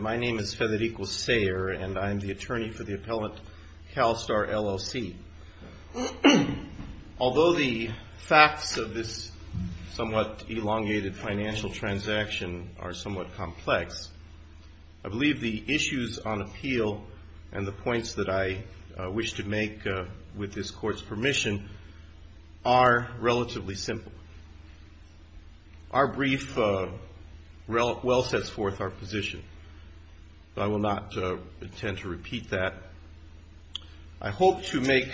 My name is Federico Sayer and I'm the attorney for the appellant CALSTAR LLC. Although the facts of this somewhat elongated financial transaction are somewhat complex, I believe the issues on appeal and the points that I wish to make with this court's permission are relatively simple. Our brief well sets forth our position, but I will not intend to repeat that. I hope to make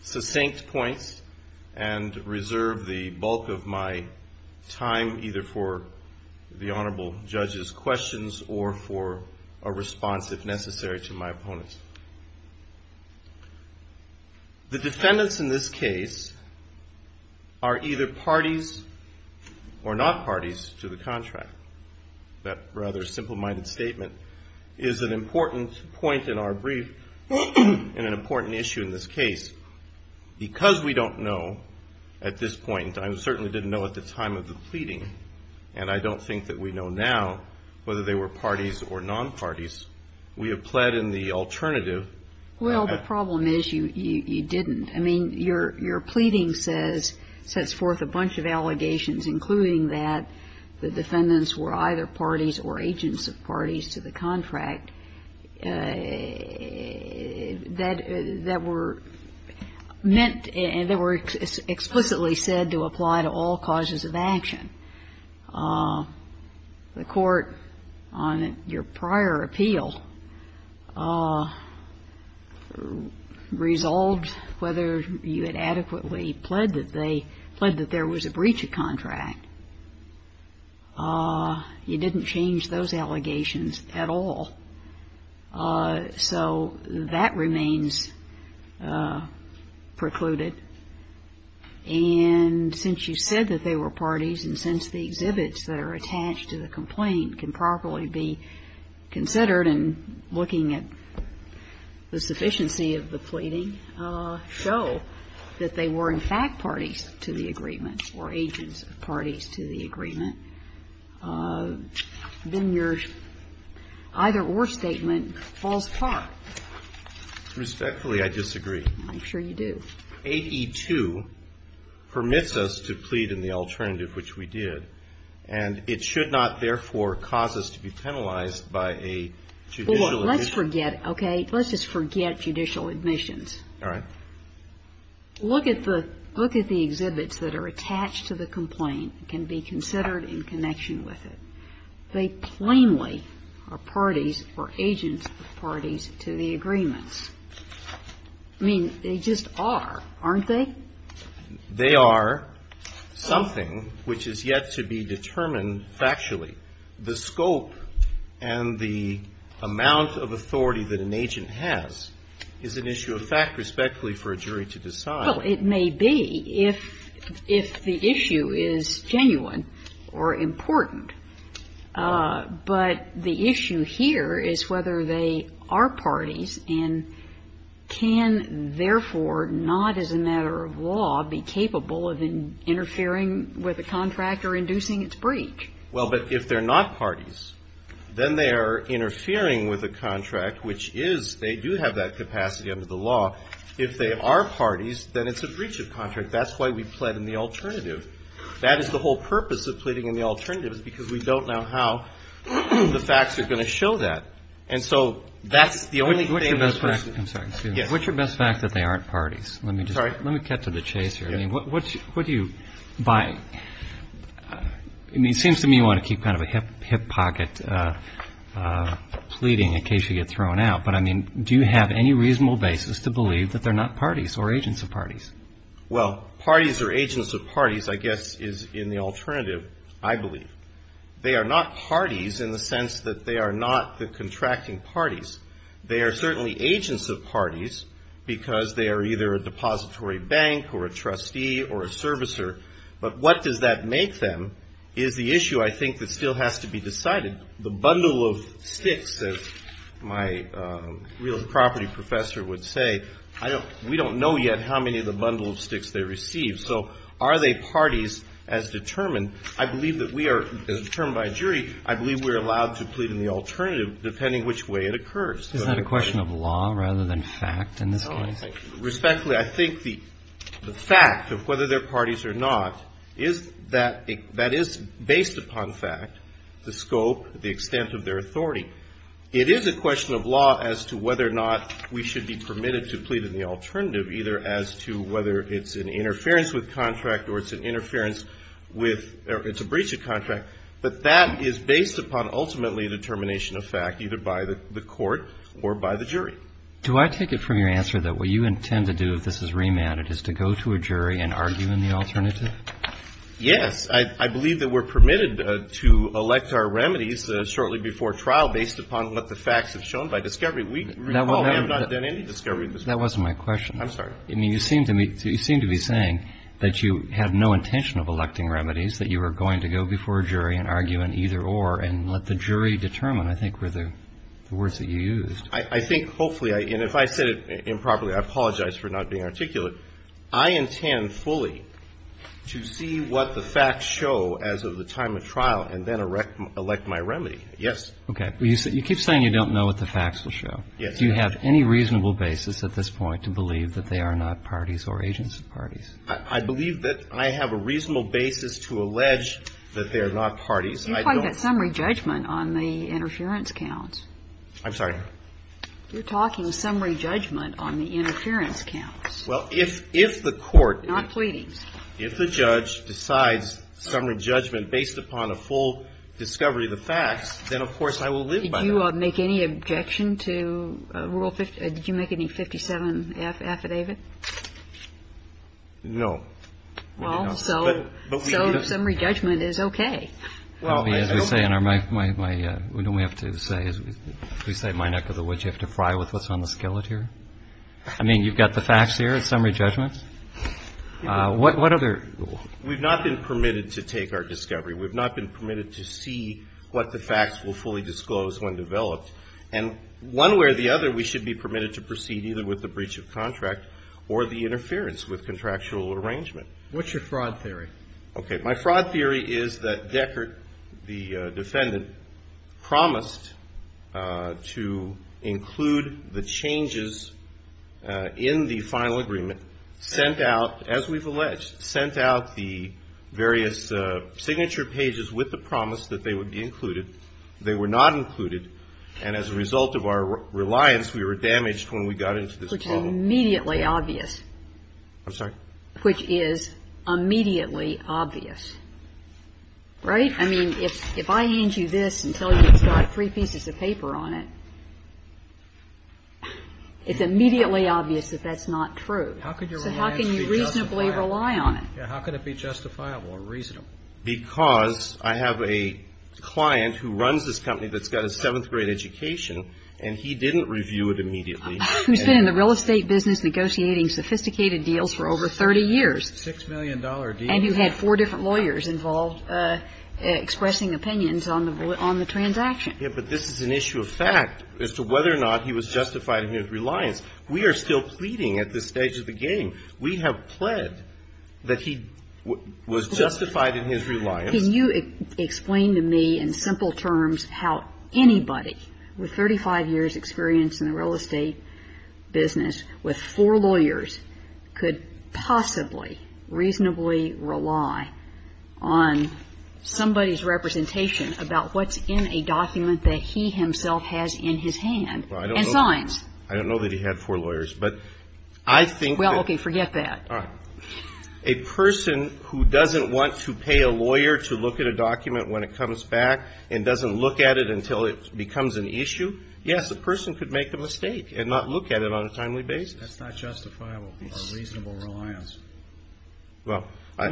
succinct points and reserve the bulk of my time either for the Honorable Judge's questions or for a response, if necessary, to my opponents. The defendants in this case are either parties or not parties to the contract. That rather simple-minded statement is an important point in our brief and an important issue in this case. Because we don't know at this point, I certainly didn't know at the time of the pleading, and I don't think that we know now whether they were parties or non-parties, we have pled in the alternative. Well, the problem is you didn't. I mean, your pleading says, sets forth a bunch of allegations, including that the defendants were either parties or agents of parties to the contract, that were meant and that were explicitly said to apply to all causes of action. The court on your prior appeal resolved whether you had adequately pled that there was a breach of contract. You didn't change those allegations at all. So that remains precluded. And since you said that they were parties and since the exhibits that are attached to the complaint can properly be considered in looking at the sufficiency of the pleading show that they were in fact parties to the agreement or agents of parties to the agreement, then your either-or statement falls apart. Respectfully, I disagree. I'm sure you do. 8E2 permits us to plead in the alternative, which we did, and it should not, therefore, cause us to be penalized by a judicial admission. Well, let's forget, okay? Let's just forget judicial admissions. All right. Look at the exhibits that are attached to the complaint and can be considered in connection with it. They plainly are parties or agents of parties to the agreements. I mean, they just are, aren't they? They are something which is yet to be determined factually. The scope and the amount of authority that an agent has is an issue of fact, respectfully, for a jury to decide. Well, it may be if the issue is genuine or important. But the issue here is whether they are parties and can, therefore, not as a matter of law, be capable of interfering with a contract or inducing its breach. Well, but if they're not parties, then they are interfering with a contract, which is they do have that capacity under the law. If they are parties, then it's a breach of contract. That's why we plead in the alternative. That is the whole purpose of pleading in the alternative, is because we don't know how the facts are going to show that. And so that's the only thing that's there. I'm sorry. What's your best fact that they aren't parties? I'm sorry. Let me cut to the chase here. What do you buy? I mean, it seems to me you want to keep kind of a hip pocket pleading in case you get thrown out. But, I mean, do you have any reasonable basis to believe that they're not parties or agents of parties? Well, parties or agents of parties, I guess, is in the alternative, I believe. They are not parties in the sense that they are not the contracting parties. They are certainly agents of parties because they are either a depository bank or a trustee or a servicer. But what does that make them is the issue, I think, that still has to be decided. The bundle of sticks, as my real property professor would say, we don't know yet how many of the bundle of sticks they receive. So are they parties as determined? I believe that we are, as determined by a jury, I believe we are allowed to plead in the alternative depending which way it occurs. Isn't that a question of law rather than fact in this case? Respectfully, I think the fact of whether they're parties or not is that that is based upon fact, the scope, the extent of their authority. It is a question of law as to whether or not we should be permitted to plead in the alternative, either as to whether it's an interference with contract or it's an interference with or it's a breach of contract. But that is based upon ultimately the termination of fact, either by the court or by the jury. Do I take it from your answer that what you intend to do if this is remanded is to go to a jury and argue in the alternative? Yes. I believe that we're permitted to elect our remedies shortly before trial based upon what the facts have shown by discovery. We recall we have not done any discovery in this case. That wasn't my question. I'm sorry. I mean, you seem to be saying that you had no intention of electing remedies, that you were going to go before a jury and argue an either-or and let the jury determine, I think, were the words that you used. I think hopefully, and if I said it improperly, I apologize for not being articulate, but I intend fully to see what the facts show as of the time of trial and then elect my remedy. Yes. Okay. You keep saying you don't know what the facts will show. Yes. Do you have any reasonable basis at this point to believe that they are not parties or agency parties? I believe that I have a reasonable basis to allege that they are not parties. I don't. You're talking about summary judgment on the interference counts. I'm sorry? You're talking summary judgment on the interference counts. Well, if the court. Not pleadings. If the judge decides summary judgment based upon a full discovery of the facts, then, of course, I will live by that. Did you make any objection to Rule 57? Did you make any 57F affidavit? No. Well, so summary judgment is okay. Well, as we say in our my, my, my, don't we have to say, as we say in my neck of the woods, you have to fry with what's on the skillet here? I mean, you've got the facts here in summary judgment? What other? We've not been permitted to take our discovery. We've not been permitted to see what the facts will fully disclose when developed. And one way or the other, we should be permitted to proceed either with the breach of contract or the interference with contractual arrangement. What's your fraud theory? Okay. My fraud theory is that Deckert, the defendant, promised to include the changes in the final agreement, sent out, as we've alleged, sent out the various signature pages with the promise that they would be included. They were not included. And as a result of our reliance, we were damaged when we got into this problem. Which is immediately obvious. I'm sorry? Which is immediately obvious. Right? I mean, if I hand you this and tell you it's got three pieces of paper on it, it's immediately obvious that that's not true. So how can you reasonably rely on it? How can it be justifiable or reasonable? Because I have a client who runs this company that's got a seventh grade education, and he didn't review it immediately. Who's been in the real estate business negotiating sophisticated deals for over 30 years. Six million dollar deal. And who had four different lawyers involved expressing opinions on the transaction. Yeah, but this is an issue of fact as to whether or not he was justified in his reliance. We are still pleading at this stage of the game. We have pled that he was justified in his reliance. Can you explain to me in simple terms how anybody with 35 years experience in the real estate business with four lawyers could possibly reasonably rely on somebody's representation about what's in a document that he himself has in his hand. And signs. I don't know that he had four lawyers, but I think that. Well, okay, forget that. All right. A person who doesn't want to pay a lawyer to look at a document when it comes back and doesn't look at it until it becomes an issue. Yes, the person could make the mistake and not look at it on a timely basis. That's not justifiable or reasonable reliance. Well,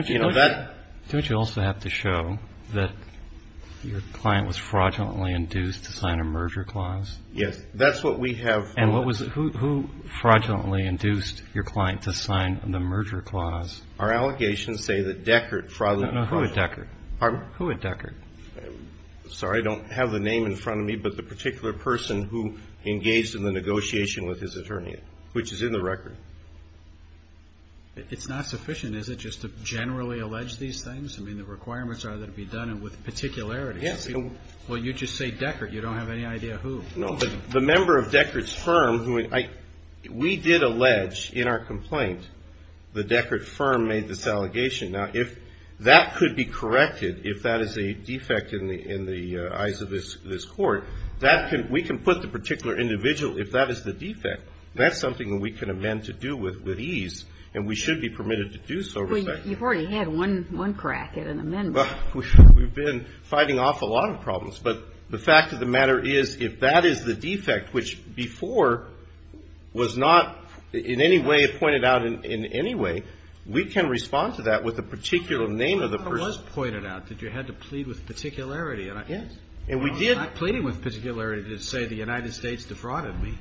you know that. Don't you also have to show that your client was fraudulently induced to sign a merger clause? Yes, that's what we have. And what was it? Who fraudulently induced your client to sign the merger clause? Our allegations say that Deckert fraudulently. Who had Deckert? Sorry, I don't have the name in front of me. But the particular person who engaged in the negotiation with his attorney, which is in the record. It's not sufficient, is it, just to generally allege these things? I mean, the requirements are that it be done with particularity. Yes. Well, you just say Deckert. You don't have any idea who. No, but the member of Deckert's firm who I – we did allege in our complaint the Deckert firm made this allegation. Now, if that could be corrected, if that is a defect in the eyes of this Court, that can – we can put the particular individual, if that is the defect, that's something that we can amend to do with ease, and we should be permitted to do so. But you've already had one crack at an amendment. We've been fighting an awful lot of problems. But the fact of the matter is, if that is the defect, which before was not in any way pointed out in any way, we can respond to that with the particular name of the person. It was pointed out that you had to plead with particularity. Yes. And we did. I'm not pleading with particularity to say the United States defrauded me.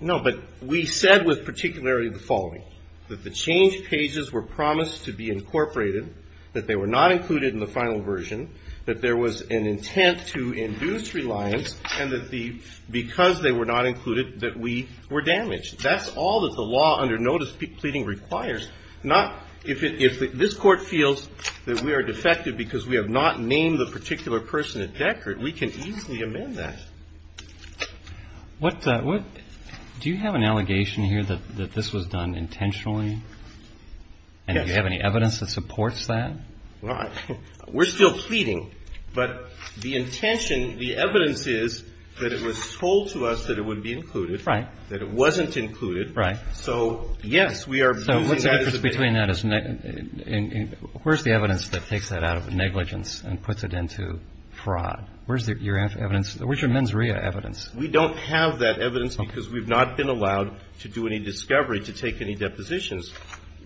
No, but we said with particularity the following, that the change pages were promised to be incorporated, that they were not included in the final version, that there was an intent to induce reliance, and that the – because they were not included, that we were damaged. That's all that the law under notice pleading requires. Not – if this Court feels that we are defective because we have not named the particular person at Deckert, we can easily amend that. What – do you have an allegation here that this was done intentionally? Yes. And do you have any evidence that supports that? Right. We're still pleading, but the intention, the evidence is that it was told to us that it would be included. Right. That it wasn't included. Right. So, yes, we are using that as a basis. So what's the difference between that? Where's the evidence that takes that out of negligence and puts it into fraud? Where's your evidence? Where's your mens rea evidence? We don't have that evidence because we've not been allowed to do any discovery to take any depositions.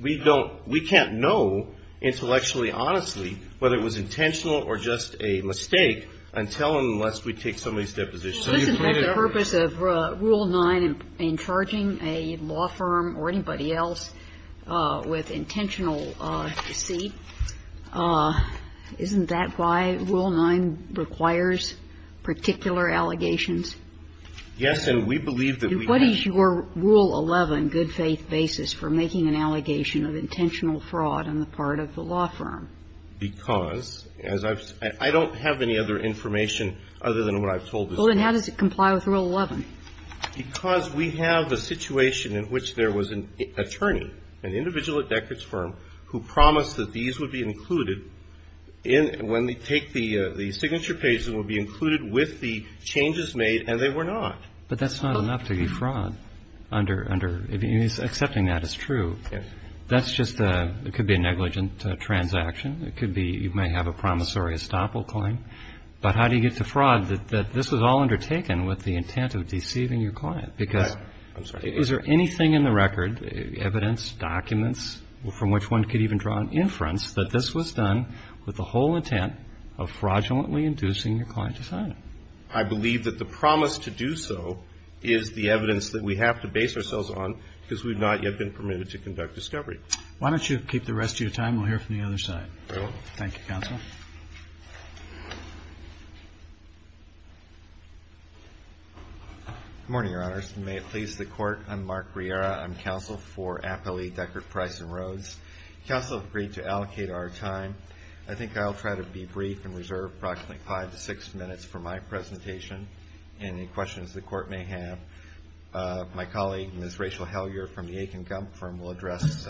We don't – we can't know intellectually, honestly, whether it was intentional or just a mistake until and unless we take somebody's deposition. So you've made it obvious. Well, isn't that the purpose of Rule 9 in charging a law firm or anybody else with intentional deceit? Isn't that why Rule 9 requires particular allegations? Yes, and we believe that we have. And what is your Rule 11 good faith basis for making an allegation of intentional fraud on the part of the law firm? Because, as I've – I don't have any other information other than what I've told this case. Well, then how does it comply with Rule 11? Because we have a situation in which there was an attorney, an individual at Deckard's Firm, who promised that these would be included in – when they take the signature pages, it will be included with the changes made, and they were not. But that's not enough to be fraud under – if he's accepting that as true. That's just a – it could be a negligent transaction. It could be – you may have a promissory estoppel claim. But how do you get to fraud that this was all undertaken with the intent of deceiving your client? Because is there anything in the record, evidence, documents, from which one could even draw an inference that this was done with the whole intent of fraudulently inducing your client to sign it? I believe that the promise to do so is the evidence that we have to base ourselves on, because we've not yet been permitted to conduct discovery. Why don't you keep the rest of your time? We'll hear from the other side. Very well. Thank you, Counsel. Good morning, Your Honors, and may it please the Court. I'm Mark Riera. I'm Counsel for Appellee Deckard Price and Rhodes. Counsel agreed to allocate our time. I think I'll try to be brief and reserve approximately five to six minutes for my presentation and any questions the Court may have. My colleague, Ms. Rachel Hellyer from the Aiken Gump Firm, will address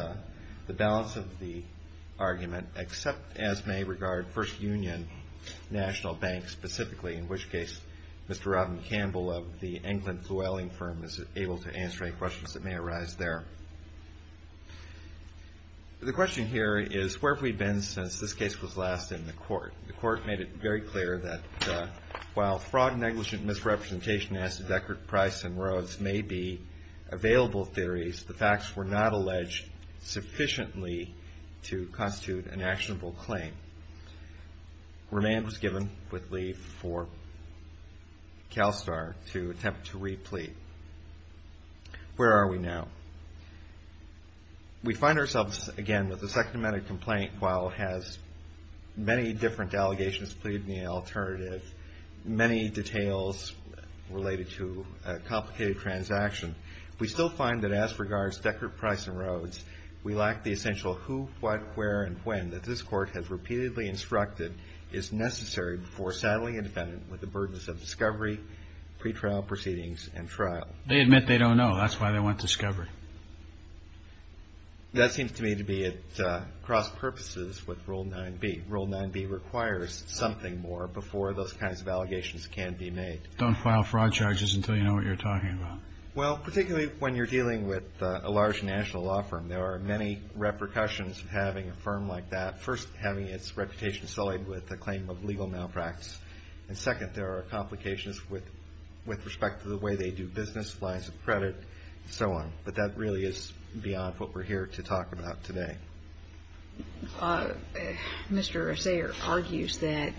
the balance of the argument, except as may regard First Union National Bank specifically, in which case Mr. Robin Campbell of the England Flewelling Firm is able to answer any questions that may arise there. The question here is where have we been since this case was last in the Court? The Court made it very clear that while fraud, negligent misrepresentation, as to Deckard Price and Rhodes may be available theories, the facts were not alleged sufficiently to constitute an actionable claim. Remand was given with leave for CalSTAR to attempt to replete. Where are we now? We find ourselves again with the Second Amendment complaint while it has many different allegations pleaded in the alternative, many details related to a complicated transaction. We still find that as regards Deckard Price and Rhodes, we lack the essential who, what, where, and when that this Court has repeatedly instructed is necessary before settling a defendant with the burdens of discovery, pretrial proceedings, and trial. They admit they don't know. That's why they want discovery. That seems to me to be at cross-purposes with Rule 9b. Rule 9b requires something more before those kinds of allegations can be made. Don't file fraud charges until you know what you're talking about. Well, particularly when you're dealing with a large national law firm, there are many repercussions of having a firm like that. First, having its reputation sullied with the claim of legal malpractice. And second, there are complications with respect to the way they do business, lines of credit, and so on. But that really is beyond what we're here to talk about today. Mr. Sayre argues that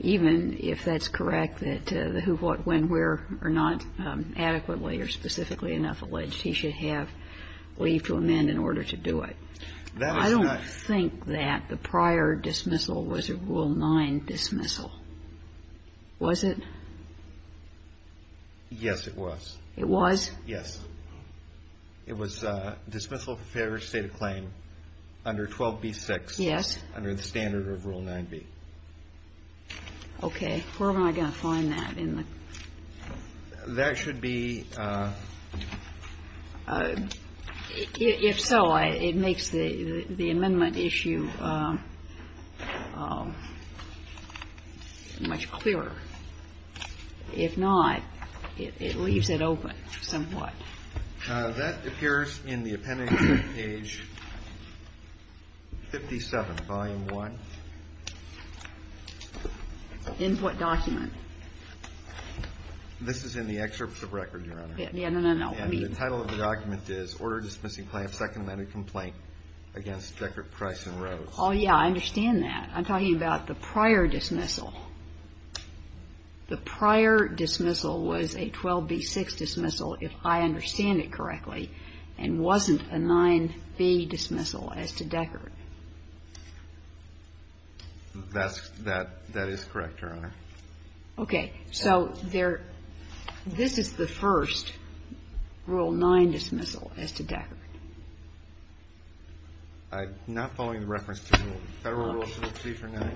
even if that's correct, that the who, what, when, where are not adequately or specifically enough alleged, he should have leave to amend in order to do it. I don't think that the prior dismissal was a Rule 9 dismissal. Was it? Yes, it was. It was? Yes. It was dismissal for failure to state a claim under 12b-6. Yes. Under the standard of Rule 9b. Okay. Where am I going to find that in the ---- That should be ---- If so, it makes the amendment issue much clearer. If not, it leaves it open somewhat. That appears in the appendix on page 57, volume 1. In what document? This is in the excerpts of record, Your Honor. No, no, no. I mean ---- And the title of the document is Order Dismissing Claim of Second-Land Complaint against Deckert, Price and Rose. Oh, yeah, I understand that. I'm talking about the prior dismissal. The prior dismissal was a 12b-6 dismissal, if I understand it correctly, and wasn't a 9b dismissal as to Deckert. That is correct, Your Honor. Okay. So this is the first Rule 9 dismissal as to Deckert. I'm not following the reference to Federal Rule 2349.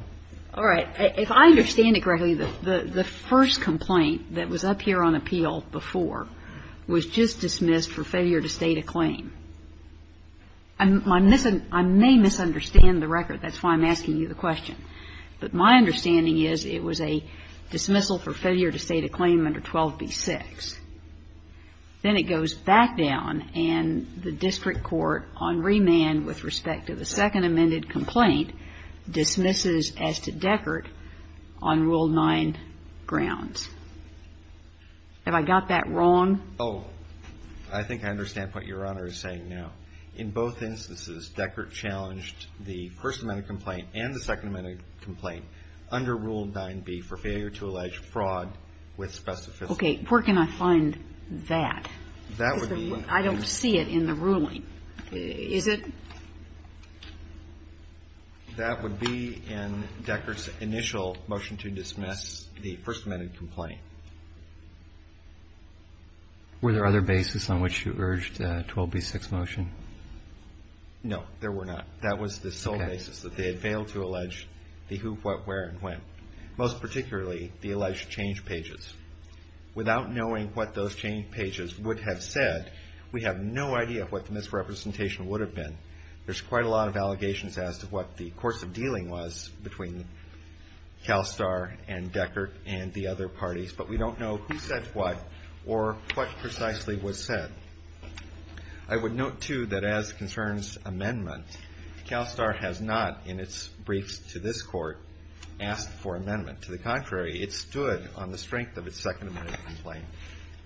All right. If I understand it correctly, the first complaint that was up here on appeal before was just dismissed for failure to state a claim. I may misunderstand the record. That's why I'm asking you the question. But my understanding is it was a dismissal for failure to state a claim under 12b-6. Then it goes back down, and the district court on remand with respect to the second amended complaint dismisses as to Deckert on Rule 9 grounds. Have I got that wrong? Oh, I think I understand what Your Honor is saying now. In both instances, Deckert challenged the first amended complaint and the second amended complaint under Rule 9b for failure to allege fraud with specificity. Okay. Where can I find that? That would be. I don't see it in the ruling. Is it? That would be in Deckert's initial motion to dismiss the first amended complaint. Were there other bases on which you urged a 12b-6 motion? No, there were not. That was the sole basis, that they had failed to allege the who, what, where, and when, most particularly the alleged change pages. Without knowing what those change pages would have said, we have no idea what the misrepresentation would have been. There's quite a lot of allegations as to what the course of dealing was between CalSTAR and Deckert and the other parties, but we don't know who said what or what precisely was said. I would note, too, that as concerns amendment, CalSTAR has not in its briefs to this court asked for amendment. To the contrary, it stood on the strength of its second amended complaint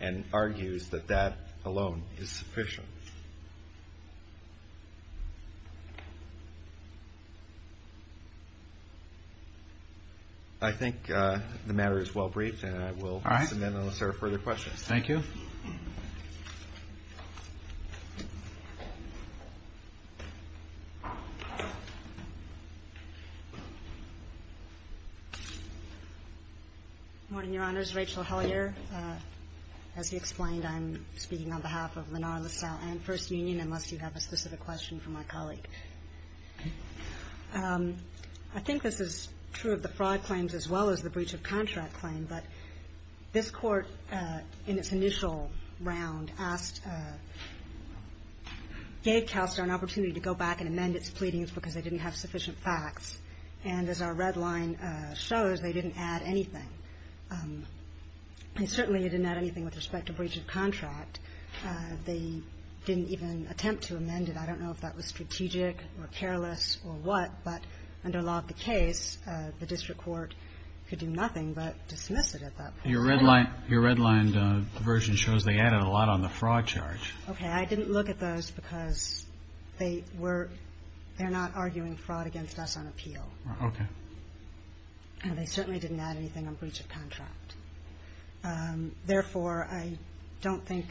and argues that that alone is sufficient. I think the matter is well briefed, and I will send in unless there are further questions. Thank you. Morning, Your Honors. Rachel Hellyer. As he explained, I'm speaking on behalf of Lennar, LaSalle, and First Union, unless you have a specific question for my colleague. I think this is true of the fraud claims as well as the breach of contract claim, but this Court in its initial round gave CalSTAR an opportunity to go back and amend its pleadings because they didn't have sufficient facts. And as our red line shows, they didn't add anything. And certainly, it didn't add anything with respect to breach of contract. They didn't even attempt to amend it. I don't know if that was strategic or careless or what, but under law of the case, the district court could do nothing but dismiss it at that point. Your red line version shows they added a lot on the fraud charge. Okay. I didn't look at those because they're not arguing fraud against us on appeal. Okay. And they certainly didn't add anything on breach of contract. Therefore, I don't think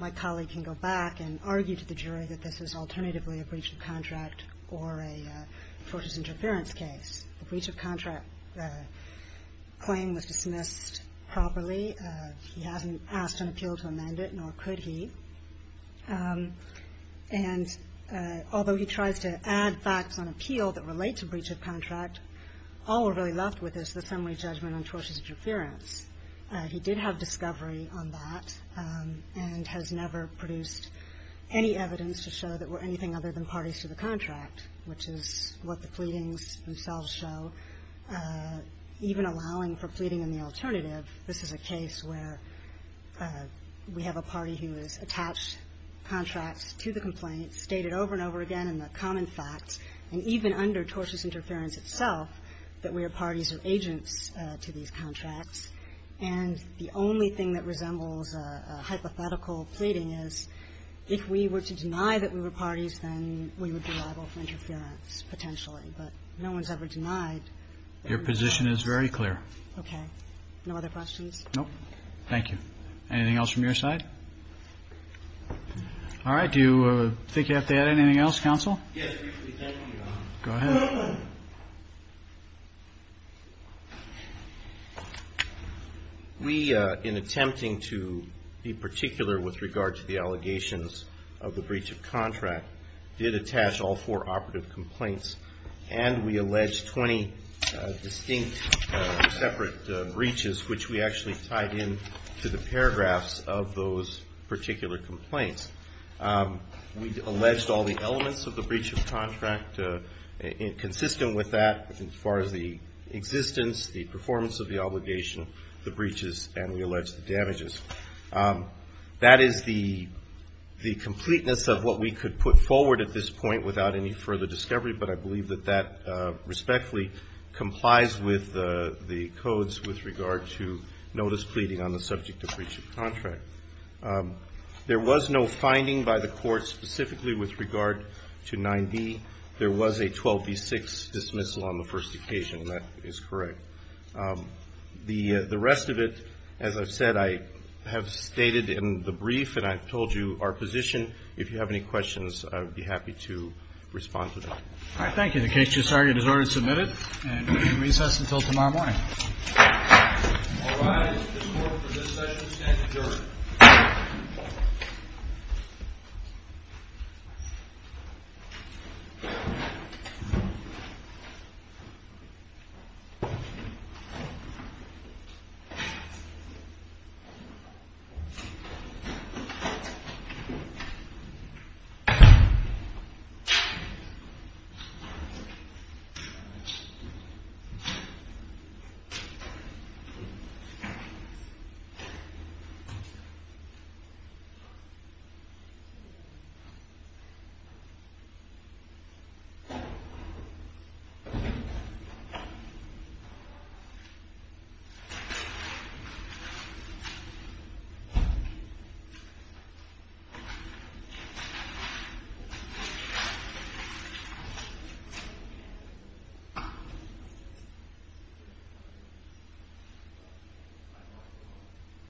my colleague can go back and argue to the jury that this is alternatively a breach of contract or a tortious interference case. The breach of contract claim was dismissed properly. He hasn't asked an appeal to amend it, nor could he. And although he tries to add facts on appeal that relate to breach of contract, all we're really left with is the summary judgment on tortious interference. He did have discovery on that and has never produced any evidence to show that there were anything other than parties to the contract, which is what the pleadings themselves show, even allowing for pleading in the alternative. This is a case where we have a party who has attached contracts to the complaint, stated over and over again in the common facts, and even under tortious interference itself, that we are parties or agents to these contracts. And the only thing that resembles a hypothetical pleading is if we were to deny that we were parties, then we would be liable for interference potentially. But no one's ever denied. Your position is very clear. Okay. No other questions? Nope. Thank you. Anything else from your side? All right. Do you think you have to add anything else, counsel? Yes, briefly. Thank you, Your Honor. Go ahead. We, in attempting to be particular with regard to the allegations of the breach of contract, did attach all four operative complaints, and we alleged 20 distinct separate breaches, which we actually tied in to the paragraphs of those particular complaints. We alleged all the elements of the breach of contract consistent with that as far as the existence, the performance of the obligation, the breaches, and we alleged the damages. That is the completeness of what we could put forward at this point without any further discovery, but I believe that that respectfully complies with the codes with regard to notice pleading on the subject of breach of contract. There was no finding by the court specifically with regard to 9B. There was a 12B6 dismissal on the first occasion, and that is correct. The rest of it, as I've said, I have stated in the brief, and I've told you our position. If you have any questions, I would be happy to respond to them. All right. Thank you. The case is resorted and submitted, and we will recess until tomorrow morning. All rise. The court for this session stands adjourned. Thank you. Thank you.